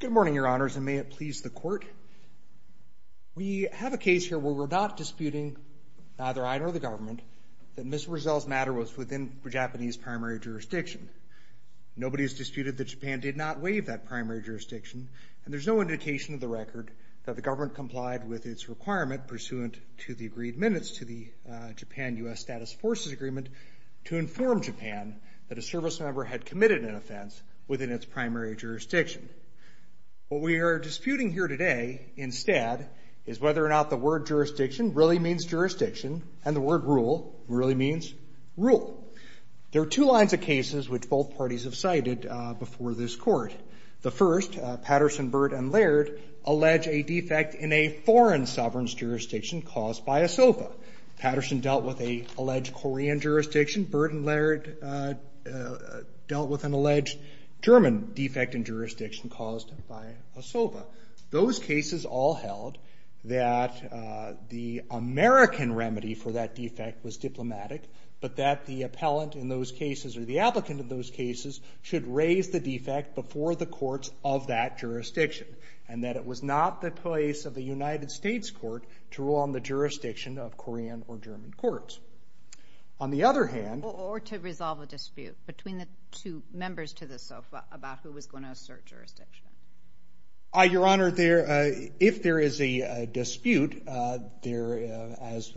Good morning, Your Honors, and may it please the Court. We have a case here where we're not disputing, neither I nor the government, that Ms. Brazell's matter was within Japanese primary jurisdiction. Nobody has disputed that Japan did not waive that primary jurisdiction, and there's no indication of the record that the government complied with its requirement pursuant to the agreed minutes to the Japan-U.S. Status Forces Agreement to inform Japan that a service member had committed an offense within its primary jurisdiction. What we are disputing here today, instead, is whether or not the word jurisdiction really means jurisdiction, and the word rule really means rule. There are two lines of cases which both parties have cited before this Court. The first, Patterson, Burt, and Laird, allege a defect in a foreign sovereign's jurisdiction caused by a SOFA. Patterson dealt with an alleged Korean jurisdiction. Burt and Laird dealt with an alleged German defect in jurisdiction caused by a SOFA. Those cases all held that the American remedy for that defect was diplomatic, but that the appellant in those cases, or the applicant in those cases, should raise the defect before the courts of that jurisdiction, and that it was not the place of the United States Court to rule on the jurisdiction of Korean or German courts. On the other hand... Or to resolve a dispute between the two members to the SOFA about who was going to assert jurisdiction. Your Honor, if there is a dispute there, as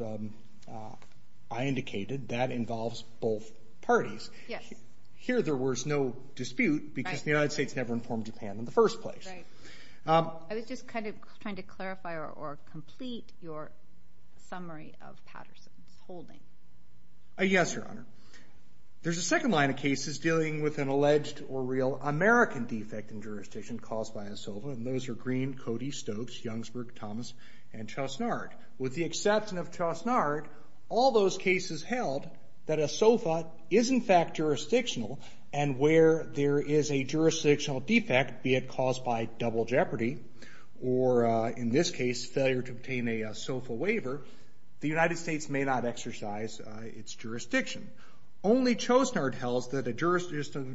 I indicated, that involves both parties. Here, there was no dispute because the United States never informed Japan in the first place. I was just kind of trying to clarify or complete your summary of Patterson's holding. Yes, Your Honor. There's a second line of cases dealing with an alleged or real American defect in jurisdiction caused by a SOFA, and those are Green, Cody, Stokes, Youngsburg, Thomas, and Chosnard. With the exception of Chosnard, all those cases held that a SOFA is in fact jurisdictional, and where there is a jurisdictional defect, be it caused by double jeopardy, or in this case, failure to obtain a SOFA waiver, the United States may not exercise its jurisdiction. Only Chosnard held that a jurisdictional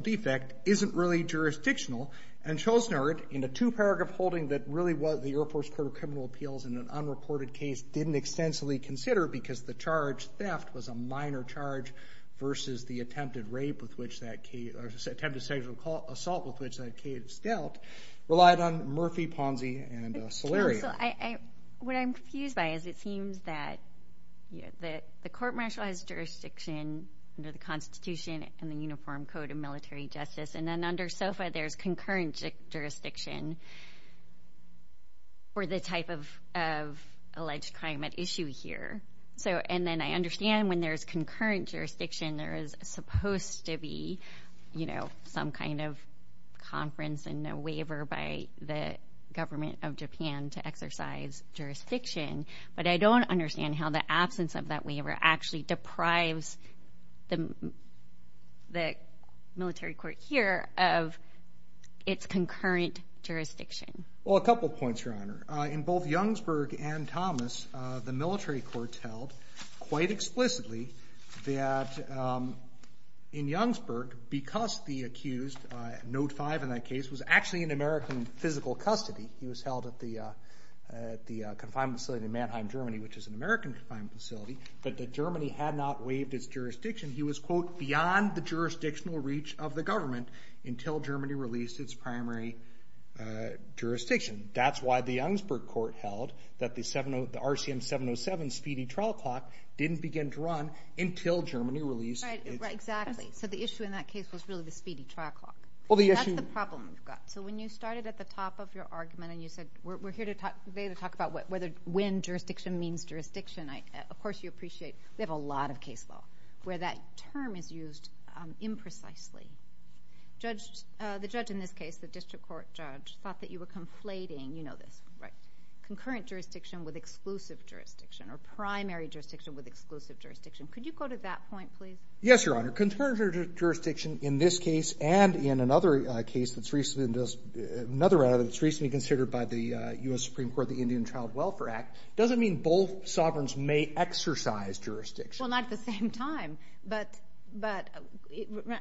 defect isn't really jurisdictional, and Chosnard, in a two-paragraph holding that really was the Air Force Court of Criminal Appeals in an unreported case, didn't extensively consider because the charge, theft, was a minor charge versus the attempted sexual assault with which that case dealt, relied on Murphy, Ponzi, and Solerio. What I'm confused by is it seems that the court martialized jurisdiction under the Constitution and the Uniform Code of Military Justice, and then under SOFA, there's concurrent jurisdiction for the type of alleged crime at issue here. So, and then I understand when there's concurrent jurisdiction, there is supposed to be, you know, some kind of conference and no waiver by the government of Japan to exercise jurisdiction, but I don't understand how the absence of that waiver actually deprives the military court here of its concurrent jurisdiction. Well, a couple points, Your Honor. In both Youngsburg and Thomas, the military courts held quite explicitly that in Youngsburg, because the accused, Note 5 in that case, was actually in American physical custody. He was held at the confinement facility in Mannheim, Germany, which is an American confinement facility, but that Germany had not waived its jurisdiction. He was, quote, beyond the jurisdictional reach of the government until Germany released its primary jurisdiction. That's why the Youngsburg court held that the RCM 707 speedy trial clock didn't begin to run until Germany released its... Right, right, exactly. So the issue in that case was really the speedy trial clock. Well, the issue... That's the problem we've got. So when you started at the top of your argument and you said, we're here today to talk about when jurisdiction means jurisdiction, of course you appreciate we have a lot of case law where that term is used imprecisely. The judge in this case, the district court judge, thought that you were conflating, you know this, right, concurrent jurisdiction with exclusive jurisdiction, or primary jurisdiction with exclusive jurisdiction. Could you go to that point, please? Yes, Your Honor. Concurrent jurisdiction in this case and in another case that's recently considered by the U.S. Supreme Court, the Indian Child Welfare Act, doesn't mean both sovereigns may exercise jurisdiction. Well, not at the same time. But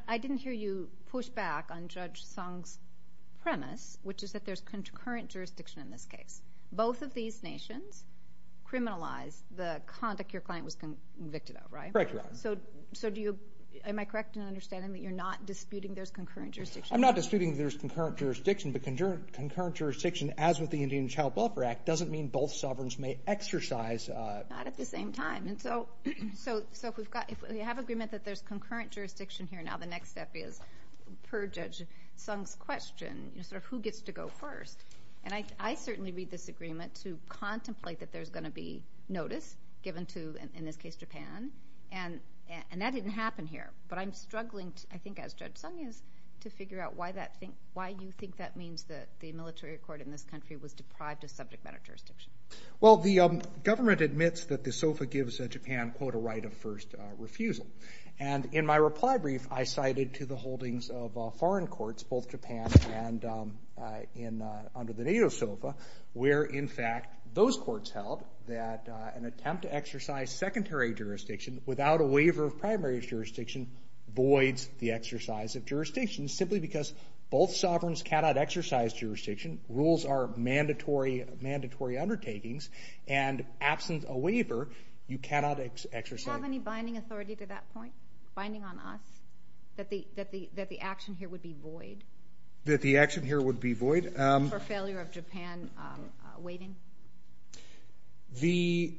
I didn't hear you push back on Judge Song's premise, which is that there's concurrent jurisdiction in this case. Both of these nations criminalized the conduct your client was convicted of, right? Correct, Your Honor. So do you... Am I correct in understanding that you're not disputing there's concurrent jurisdiction? I'm not disputing there's concurrent jurisdiction, but concurrent jurisdiction, as with the Indian Child Welfare Act, doesn't mean both sovereigns may exercise... Not at the same time. And so if we have agreement that there's concurrent jurisdiction here now, the next step is, per Judge Song's question, sort of who gets to go first? And I certainly read this agreement to contemplate that there's going to be notice given to, in this case, Japan, and that didn't happen here. But I'm struggling, I think as Judge Song is, to figure out why you think that means that the military court in this country was deprived of subject matter jurisdiction. Well, the government admits that the SOFA gives Japan, quote, a right of first refusal. And in my reply brief, I cited to the holdings of foreign courts, both Japan and under the NATO SOFA, where, in fact, those courts held that an attempt to exercise secondary jurisdiction without a waiver of primary jurisdiction voids the exercise of jurisdiction, simply because both sovereigns cannot exercise jurisdiction, rules are mandatory undertakings, and absent a waiver, you cannot exercise... Do you have any binding authority to that point? Binding on us? That the action here would be void? That the action here would be void? For failure of Japan waiting? The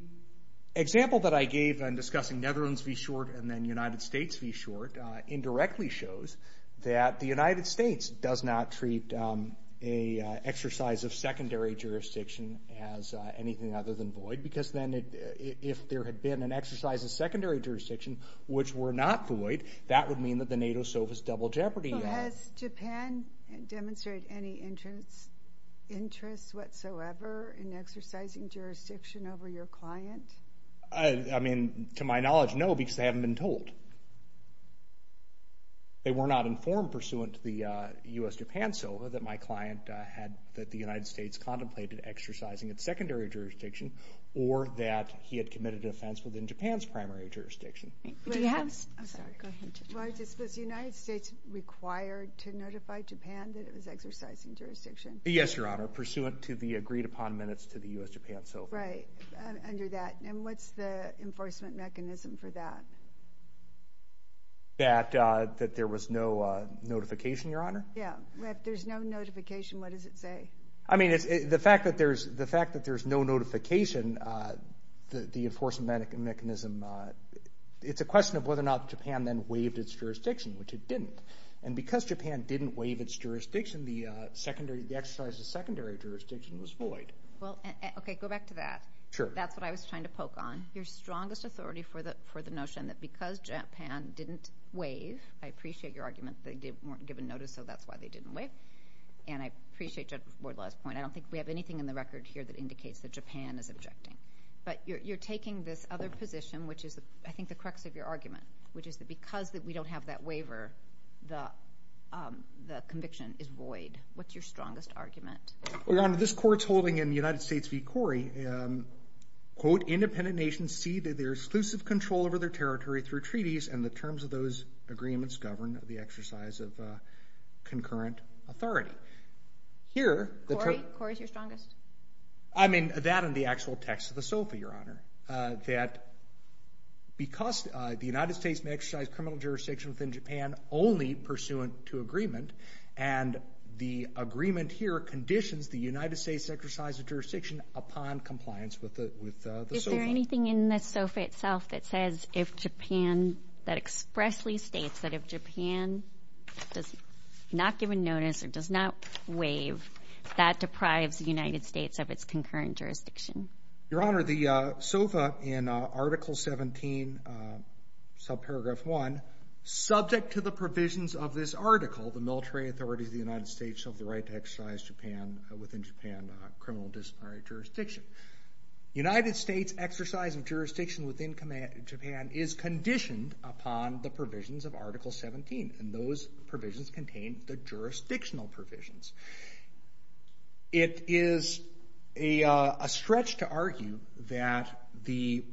example that I gave in discussing Netherlands v. Short and then United States v. Short indirectly shows that the United States does not treat an exercise of secondary jurisdiction as anything other than void, because then if there had been an exercise of secondary jurisdiction which were not void, that would mean that the NATO SOFA's double jeopardy. Has Japan demonstrated any interest whatsoever in exercising jurisdiction over your client? I mean, to my knowledge, no, because they haven't been told. They were not informed pursuant to the U.S.-Japan SOFA that my client had, that the United States contemplated exercising its secondary jurisdiction, or that he had committed an offense within Japan's primary jurisdiction. Do you have... I'm sorry, go ahead. Was the United States required to notify Japan that it was exercising jurisdiction? Yes, Your Honor, pursuant to the agreed upon minutes to the U.S.-Japan SOFA. Right, under that. And what's the enforcement mechanism for that? That there was no notification, Your Honor? Yeah. If there's no notification, what does it say? I mean, the fact that there's no notification, the enforcement mechanism, it's a question of whether or not Japan then waived its jurisdiction, which it didn't. And because Japan didn't waive its jurisdiction, the exercise of secondary jurisdiction was void. Okay, go back to that. That's what I was trying to poke on. Your strongest authority for the notion that because Japan didn't waive, I appreciate your argument that they weren't given notice, so that's why they didn't waive, and I appreciate Judge Wardlaw's point. I don't think we have anything in the record here that indicates that Japan is objecting. But you're taking this other position, which is, I think, the crux of your argument, which is that because we don't have that waiver, the conviction is void. What's your strongest argument? Well, Your Honor, this court's holding in the United States v. Corrie, quote, independent nations see their exclusive control over their territory through treaties, and the terms of those agreements govern the exercise of concurrent authority. Here, the term... Corrie? Corrie's your strongest? I mean, that and the actual text of the SOFA, Your Honor, that because the United States may exercise criminal jurisdiction within Japan only pursuant to agreement, and the agreement here conditions the United States to exercise the jurisdiction upon compliance with the SOFA. Is there anything in the SOFA itself that says if Japan, that expressly states that if Japan does not give a notice or does not waive, that deprives the United States of its concurrent jurisdiction? Your Honor, the SOFA in Article 17, Subparagraph 1, subject to the provisions of this article, the military authorities of the United States have the right to exercise Japan, within Japan, criminal disparity jurisdiction. United States exercise of jurisdiction within Japan is conditioned upon the provisions of Article 17, and those provisions contain the jurisdictional provisions. It is a stretch to argue that the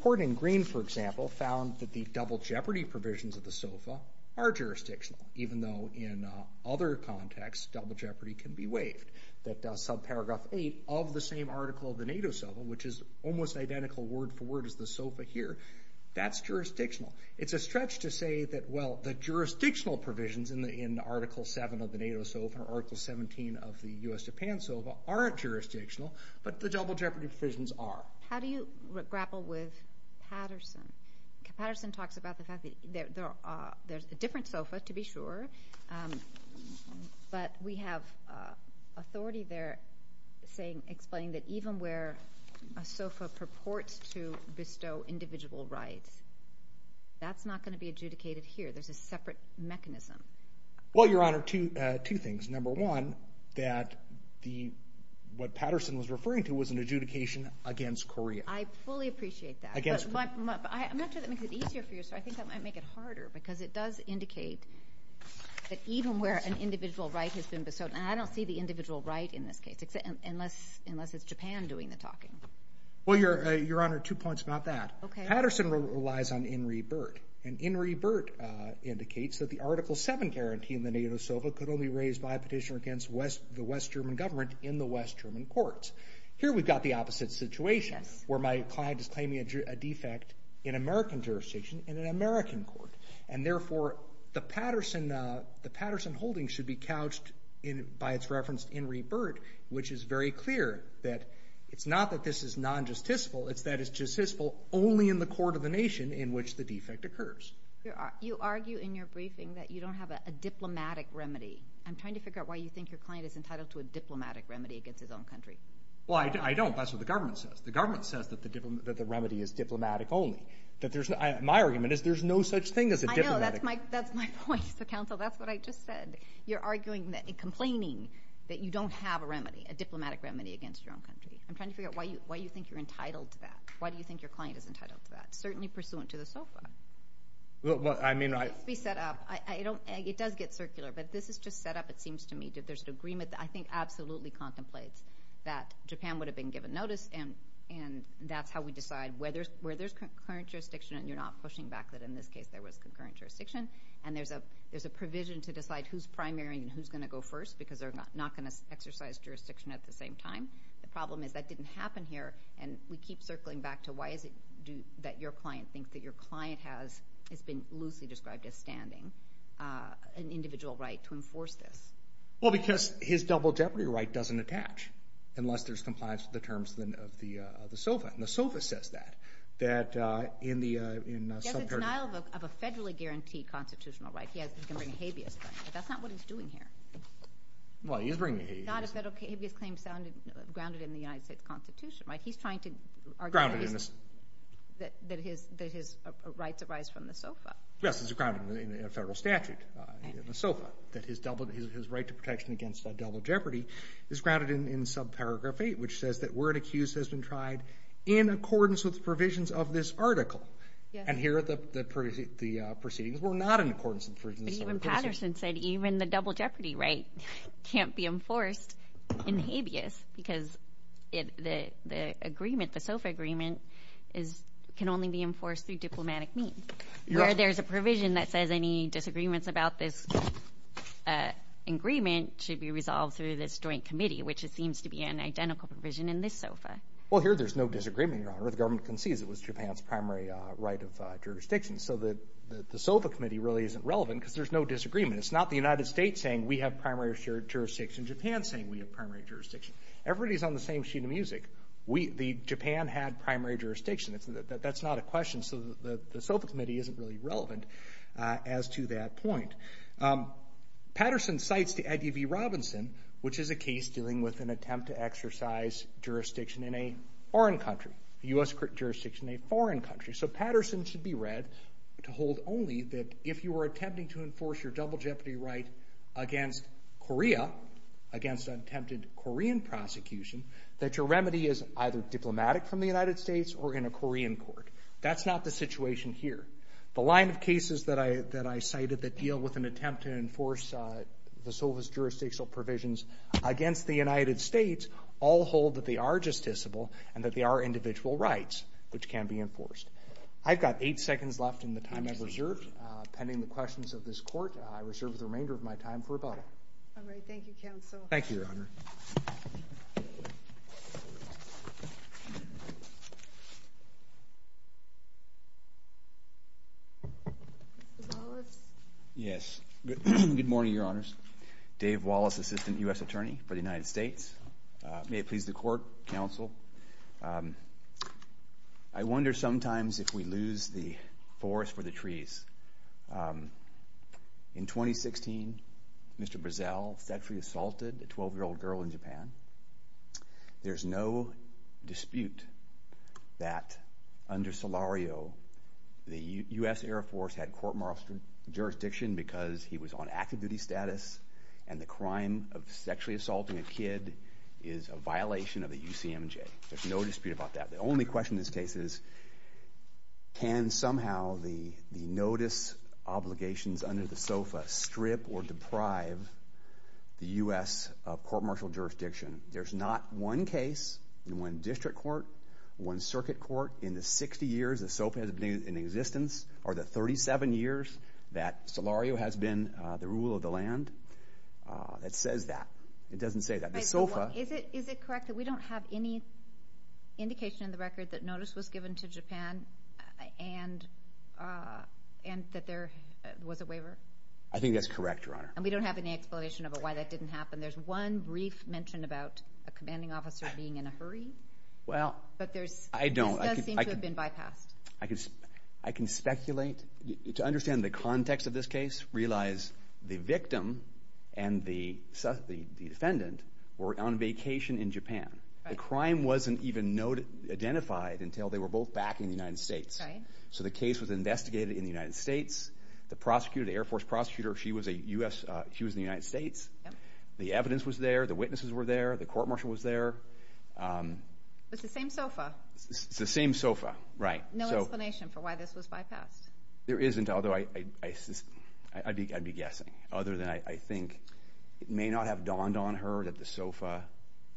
court in Green, for example, found that the double jeopardy provisions of the SOFA are jurisdictional, even though in other contexts, double jeopardy can be waived. That Subparagraph 8 of the same article of the NATO SOFA, which is almost identical word for word as the SOFA here, that's jurisdictional. It's a stretch to say that, well, the jurisdictional provisions in Article 7 of the NATO SOFA or Article 17 of the U.S.-Japan SOFA aren't jurisdictional, but the double jeopardy provisions are. How do you grapple with Patterson? Patterson talks about the fact that there's a different SOFA, to be sure, but we have authority there explaining that even where a SOFA purports to bestow individual rights, that's not going to be adjudicated here. There's a separate mechanism. Well, Your Honor, two things. Number one, that what Patterson was referring to was an adjudication against Korea. I fully appreciate that, but I'm not sure that makes it easier for you, so I think that might make it harder, because it does indicate that even where an individual right has been bestowed, and I don't see the individual right in this case, unless it's Japan doing the talking. Well, Your Honor, two points about that. Patterson relies on In-Re-Bert, and In-Re-Bert indicates that the Article 7 guarantee in the NATO SOFA could only be raised by a petitioner against the West German government in the West German courts. Here we've got the opposite situation, where my client is claiming a defect in American jurisdiction in an American court, and therefore, the Patterson holding should be couched by its reference to In-Re-Bert, which is very clear that it's not that this is non-justiciable, it's that it's justiciable only in the court of the nation in which the defect occurs. You argue in your briefing that you don't have a diplomatic remedy. I'm trying to figure out why you think your client is entitled to a diplomatic remedy against his own country. Well, I don't. That's what the government says. The government says that the remedy is diplomatic only. My argument is there's no such thing as a diplomatic remedy. I know, that's my point. So, counsel, that's what I just said. You're arguing and complaining that you don't have a diplomatic remedy against your own country. I'm trying to figure out why you think you're entitled to that. Why do you think your client is entitled to that, certainly pursuant to the SOFA? Well, I mean, I... Let's be set up. It does get circular, but this is just set up, it seems to me, that there's an agreement that I think absolutely contemplates that Japan would have been given notice, and that's how we decide where there's concurrent jurisdiction, and you're not pushing back that in this case there was concurrent jurisdiction. And there's a provision to decide who's primary and who's going to go first, because they're not going to exercise jurisdiction at the same time. The problem is that didn't happen here, and we keep circling back to why is it that your client thinks that your client has, it's been loosely described as standing, an individual right to enforce this? Well, because his double jeopardy right doesn't attach, unless there's compliance with the terms of the SOFA, and the SOFA says that, that in the... Yes, it's denial of a federally guaranteed constitutional right. He can bring a habeas claim, but that's not what he's doing here. Well, he is bringing a habeas claim. Not a federal habeas claim grounded in the United States Constitution, right? He's trying to argue that his... Grounded in this. That his rights arise from the SOFA. Yes, it's grounded in a federal statute in the SOFA, that his right to protection against double jeopardy is grounded in subparagraph 8, which says that word accused has been tried in accordance with the provisions of this article. And here, the proceedings were not in accordance with the provisions of the SOFA. But even Patterson said, even the double jeopardy right can't be enforced in habeas, because the agreement, the SOFA agreement, can only be enforced through diplomatic means. Where there's a provision that says any disagreements about this agreement should be resolved through this joint committee, which it seems to be an identical provision in this SOFA. Well, here there's no disagreement, Your Honor. The government concedes it was Japan's primary right of jurisdiction. So the SOFA committee really isn't relevant, because there's no disagreement. It's not the United States saying, we have primary jurisdiction, Japan saying we have primary jurisdiction. Everybody's on the same sheet of music. Japan had primary jurisdiction. That's not a question, so the SOFA committee isn't really relevant as to that point. Patterson cites the I.D.V. Robinson, which is a case dealing with an attempt to exercise jurisdiction in a foreign country, U.S. jurisdiction in a foreign country. So Patterson should be read to hold only that if you are attempting to enforce your double jeopardy right against Korea, against an attempted Korean prosecution, that your remedy is either diplomatic from the United States or in a Korean court. That's not the situation here. The line of cases that I cited that deal with an attempt to enforce the SOFA's jurisdictional provisions against the United States all hold that they are justiciable and that they are individual rights, which can be enforced. I've got eight seconds left in the time I've reserved, pending the questions of this Court. I reserve the remainder of my time for rebuttal. All right. Thank you, Counsel. Thank you, Your Honor. Mr. Wallace? Yes. Good morning, Your Honors. Dave Wallace, Assistant U.S. Attorney for the United States. May it please the Court, Counsel, I wonder sometimes if we lose the forest for the trees. In 2016, Mr. Brazell sexually assaulted a 12-year-old girl in Japan. There's no dispute that under Solario, the U.S. Air Force had court-martialed jurisdiction because he was on active duty status and the crime of sexually assaulting a kid is a violation of the UCMJ. There's no dispute about that. The only question in this case is can somehow the notice obligations under the SOFA strip or deprive the U.S. court-martial jurisdiction? There's not one case in one district court, one circuit court in the 60 years the SOFA has been in existence or the 37 years that Solario has been the rule of the land that says that. It doesn't say that. Is it correct that we don't have any indication in the record that notice was given to Japan and that there was a waiver? I think that's correct, Your Honor. And we don't have any explanation about why that didn't happen? There's one brief mention about a commanding officer being in a hurry? Well, I don't. This does seem to have been bypassed. I can speculate. To understand the context of this case, realize the victim and the defendant were on vacation in Japan. The crime wasn't even identified until they were both back in the United States. So the case was investigated in the United States. The prosecutor, the Air Force prosecutor, she was in the United States. The evidence was there. The witnesses were there. The court-martial was there. It's the same SOFA. It's the same SOFA, right. No explanation for why this was bypassed? There isn't, although I'd be guessing. Other than I think it may not have dawned on her that the SOFA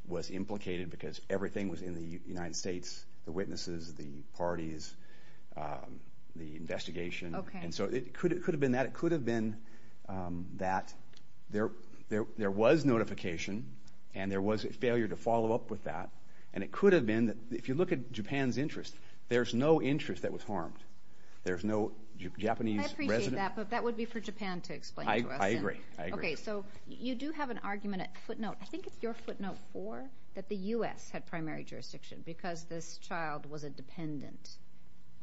was implicated because everything was in the United States. The witnesses, the parties, the investigation. And so it could have been that. It could have been that. There was notification, and there was a failure to follow up with that. And it could have been that. If you look at Japan's interest, there's no interest that was harmed. There's no Japanese resident. I appreciate that, but that would be for Japan to explain to us. I agree. Okay, so you do have an argument at footnote. I think it's your footnote four that the U.S. had primary jurisdiction because this child was a dependent.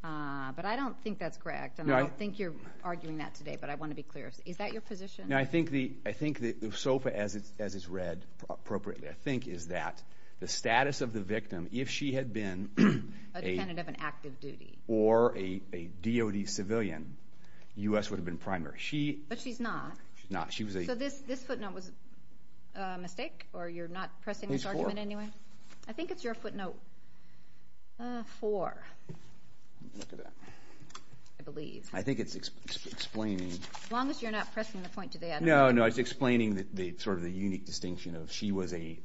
But I don't think that's correct, and I don't think you're arguing that today, but I want to be clear. Is that your position? No, I think the SOFA, as it's read appropriately, I think is that the status of the victim, if she had been a dependent of an active duty or a DOD civilian, the U.S. would have been primary. But she's not. She's not. So this footnote was a mistake, or you're not pressing this argument anyway? It's four. I think it's your footnote four, I believe. I think it's explaining. As long as you're not pressing the point today, I don't know. No, no, it's explaining sort of the unique distinction of she was a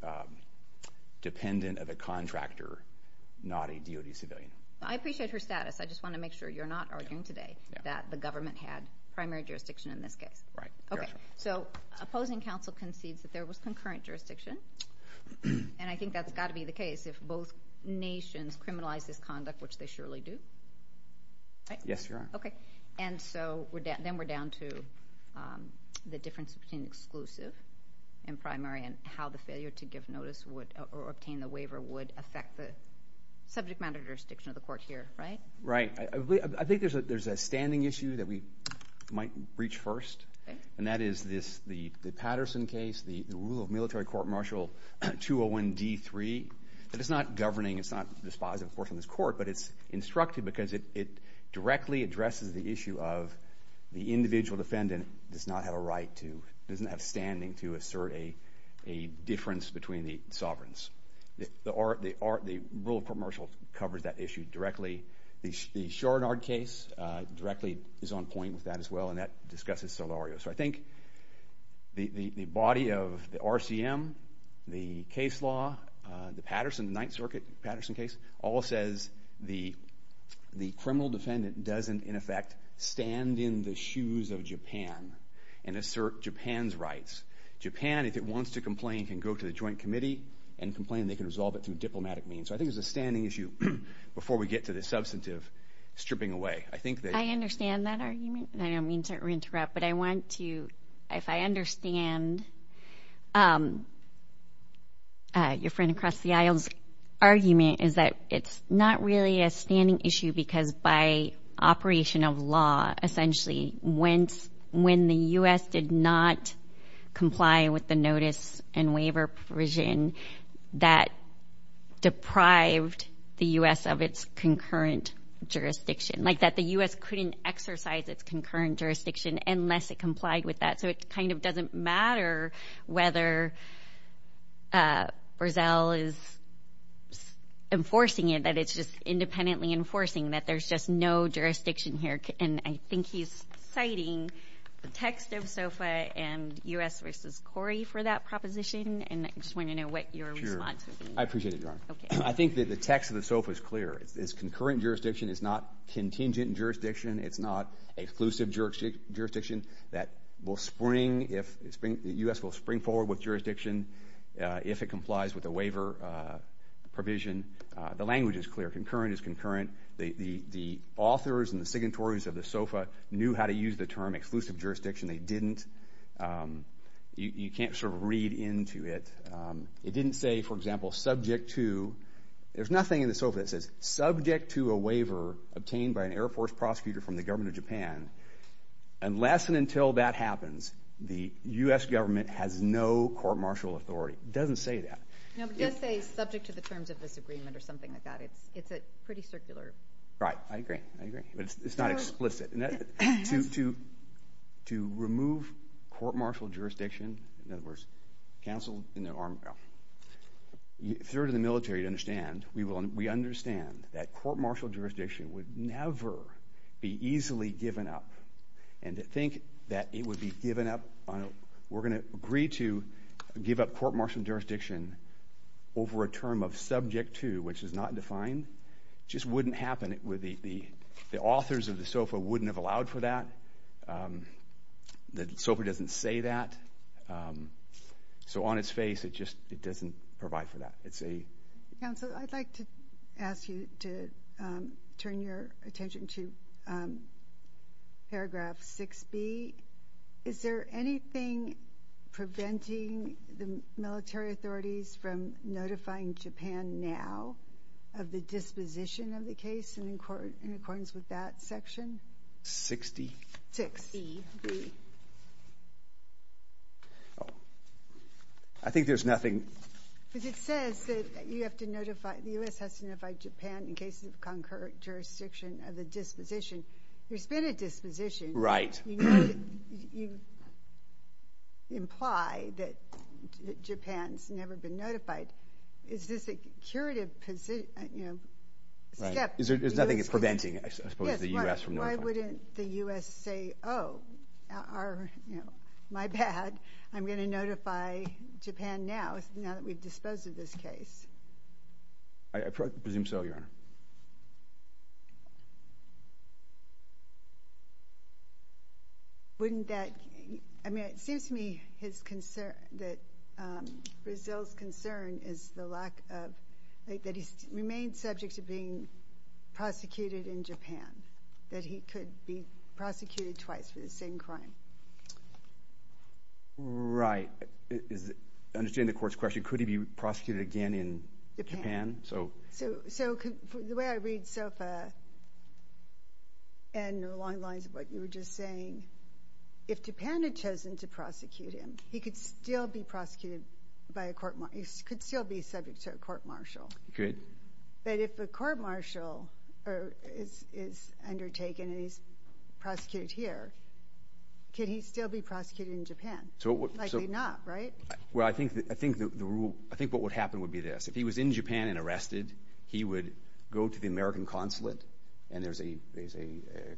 dependent of a contractor, not a DOD civilian. I appreciate her status. I just want to make sure you're not arguing today that the government had primary jurisdiction in this case. Right. Okay, so opposing counsel concedes that there was concurrent jurisdiction, and I think that's got to be the case if both nations criminalize this conduct, which they surely do. Yes, you are. Okay, and so then we're down to the difference between exclusive and primary and how the failure to give notice or obtain the waiver would affect the subject matter jurisdiction of the court here, right? Right. I think there's a standing issue that we might reach first, and that is the Patterson case, the rule of military court martial 201-D3. It's not governing. It's not dispositive, of course, on this court, but it's instructive because it directly addresses the issue of the individual defendant does not have a standing to assert a difference between the sovereigns. The rule of court martial covers that issue directly. The Shorenard case directly is on point with that as well, and that discusses Solorio. So I think the body of the RCM, the case law, the Patterson, the Ninth Circuit Patterson case, all says the criminal defendant doesn't, in effect, stand in the shoes of Japan and assert Japan's rights. Japan, if it wants to complain, can go to the joint committee and complain, and they can resolve it through diplomatic means. So I think there's a standing issue before we get to the substantive stripping away. I think that... I understand that argument. I don't mean to interrupt, but I want to, if I understand your friend across the aisle's argument, is that it's not really a standing issue because by operation of law, essentially, when the U.S. did not comply with the notice and waiver provision that deprived the U.S. of its concurrent jurisdiction, like that the U.S. couldn't exercise its concurrent jurisdiction unless it complied with that. So it kind of doesn't matter whether Brazil is enforcing it, that it's just independently enforcing, that there's just no jurisdiction here. And I think he's citing the text of SOFA and U.S. v. Corrie for that proposition, and I just want to know what your response is. Sure. I appreciate it, Your Honor. Okay. I think that the text of the SOFA is clear. It's concurrent jurisdiction. It's not contingent jurisdiction. It's not exclusive jurisdiction. The U.S. will spring forward with jurisdiction if it complies with the waiver provision. The language is clear. Concurrent is concurrent. The authors and the signatories of the SOFA knew how to use the term exclusive jurisdiction. They didn't. You can't sort of read into it. It didn't say, for example, subject to. There's nothing in the SOFA that says, subject to a waiver obtained by an Air Force prosecutor from the government of Japan, unless and until that happens, the U.S. government has no court-martial authority. It doesn't say that. No, but it does say, subject to the terms of this agreement or something like that. It's pretty circular. Right. I agree. I agree. But it's not explicit. To remove court-martial jurisdiction, in other words, cancel, you know, throw it in the military to understand. We understand that court-martial jurisdiction would never be easily given up. And to think that it would be given up, we're going to agree to give up court-martial jurisdiction over a term of subject to, which is not defined, just wouldn't happen. The authors of the SOFA wouldn't have allowed for that. The SOFA doesn't say that. So on its face, it just doesn't provide for that. It's a... Counsel, I'd like to ask you to turn your attention to paragraph 6B. Is there anything preventing the military authorities from notifying Japan now of the disposition of the case in accordance with that section? 6D. 6B. B. Oh. I think there's nothing... Because it says that you have to notify, the U.S. has to notify Japan in cases of concurrent jurisdiction of the disposition. There's been a disposition. Right. You imply that Japan's never been notified. Is this a curative step? There's nothing preventing, I suppose, the U.S. from notifying. Why wouldn't the U.S. say, oh, my bad, I'm going to notify Japan now that we've disposed of this case? I presume so, Your Honor. Wouldn't that... I mean, it seems to me that Brazil's concern is the lack of... that he's remained subject to being prosecuted in Japan, that he could be prosecuted twice for the same crime. Right. Understanding the court's question, could he be prosecuted again in Japan? So the way I read SOFA and along the lines of what you were just saying, if Japan had chosen to prosecute him, he could still be prosecuted by a court... He could still be subject to a court-martial. Good. But if a court-martial is undertaken and he's prosecuted here, can he still be prosecuted in Japan? Likely not, right? Well, I think what would happen would be this. If he was in Japan and arrested, he would go to the American consulate and there's a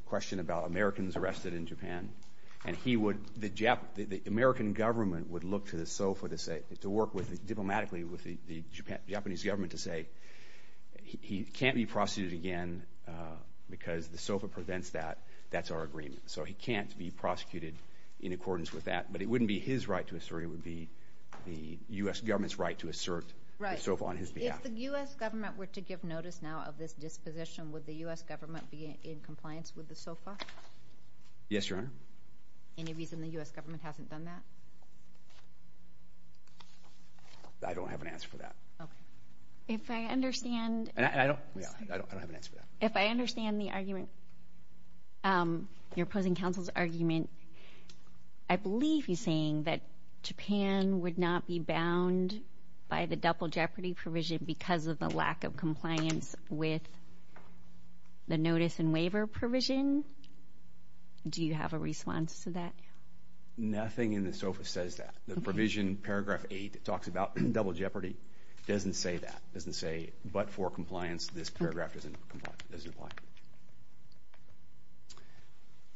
question about Americans arrested in Japan and the American government would look to the SOFA to work diplomatically with the Japanese government to say he can't be prosecuted again because the SOFA prevents that. That's our agreement. So he can't be prosecuted in accordance with that. But it wouldn't be his right to assert. It would be the U.S. government's right to assert the SOFA on his behalf. If the U.S. government were to give notice now of this disposition, would the U.S. government be in compliance with the SOFA? Yes, Your Honor. Any reason the U.S. government hasn't done that? I don't have an answer for that. If I understand... I don't have an answer for that. If I understand the argument, your opposing counsel's argument, I believe he's saying that Japan would not be bound by the double jeopardy provision because of the lack of compliance with the notice and waiver provision. Do you have a response to that? Nothing in the SOFA says that. The provision, paragraph 8, talks about double jeopardy. It doesn't say that. It doesn't say, but for compliance, this paragraph doesn't apply.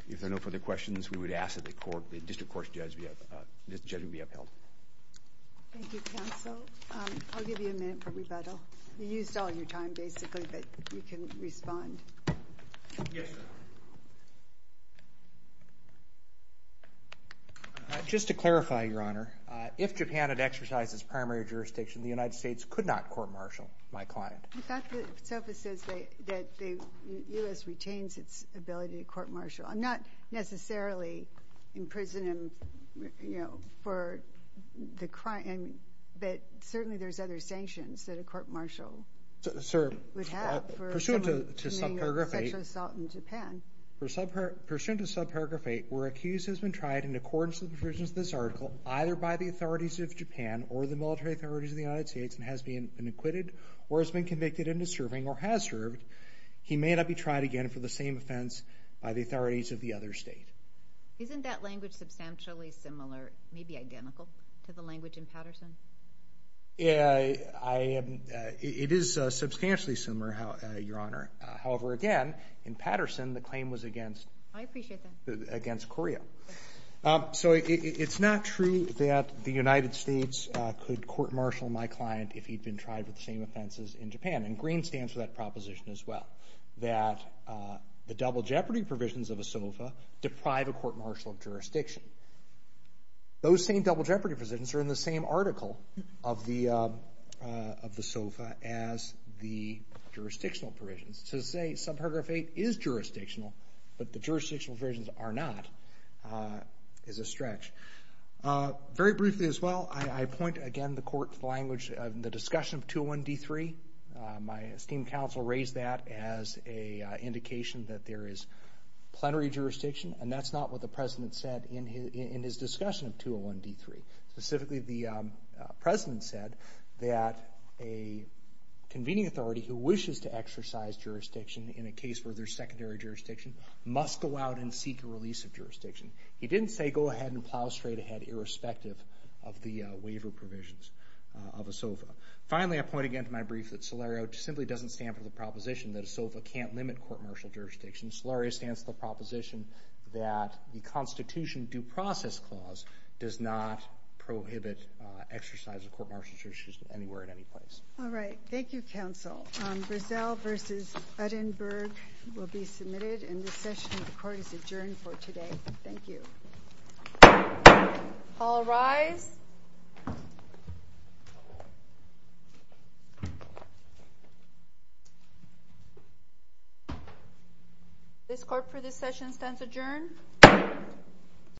If there are no further questions, we would ask that the district court's judge be upheld. Thank you, counsel. I'll give you a minute for rebuttal. You used all your time, basically, but you can respond. Yes, Your Honor. Just to clarify, Your Honor, if Japan had exercised its primary jurisdiction, the United States could not court-martial my client. In fact, the SOFA says that the U.S. retains its ability to court-martial. I'm not necessarily in prison for the crime, but certainly there's other sanctions that a court-martial would have for someone committing a sexual assault in Japan. Pursuant to subparagraph 8, where accused has been tried in accordance with the provisions of this article either by the authorities of Japan or the military authorities of the United States and has been acquitted or has been convicted and is serving or has served, he may not be tried again for the same offense by the authorities of the other state. Isn't that language substantially similar, maybe identical, to the language in Patterson? It is substantially similar, Your Honor. However, again, in Patterson, the claim was against Korea. I appreciate that. So it's not true that the United States could court-martial my client if he'd been tried for the same offenses in Japan. And green stands for that proposition as well, that the double jeopardy provisions of a SOFA deprive a court-martial of jurisdiction. Those same double jeopardy provisions are in the same article of the SOFA as the jurisdictional provisions. So to say subparagraph 8 is jurisdictional but the jurisdictional provisions are not is a stretch. Very briefly as well, I point again the court to the language of the discussion of 201-D3. My esteemed counsel raised that as an indication that there is plenary jurisdiction and that's not what the President said in his discussion of 201-D3. Specifically, the President said that a convening authority who wishes to exercise jurisdiction in a case where there's secondary jurisdiction must go out and seek a release of jurisdiction. He didn't say go ahead and plow straight ahead irrespective of the waiver provisions of a SOFA. Finally, I point again to my brief that Solaria simply doesn't stand for the proposition that a SOFA can't limit court-martial jurisdiction. Solaria stands for the proposition that the Constitution Due Process Clause does not prohibit exercise of court-martial jurisdiction anywhere at any place. All right. Thank you, counsel. Brazell v. Uttenberg will be submitted and this session of the Court is adjourned for today. Thank you. All rise. This Court for this session stands adjourned.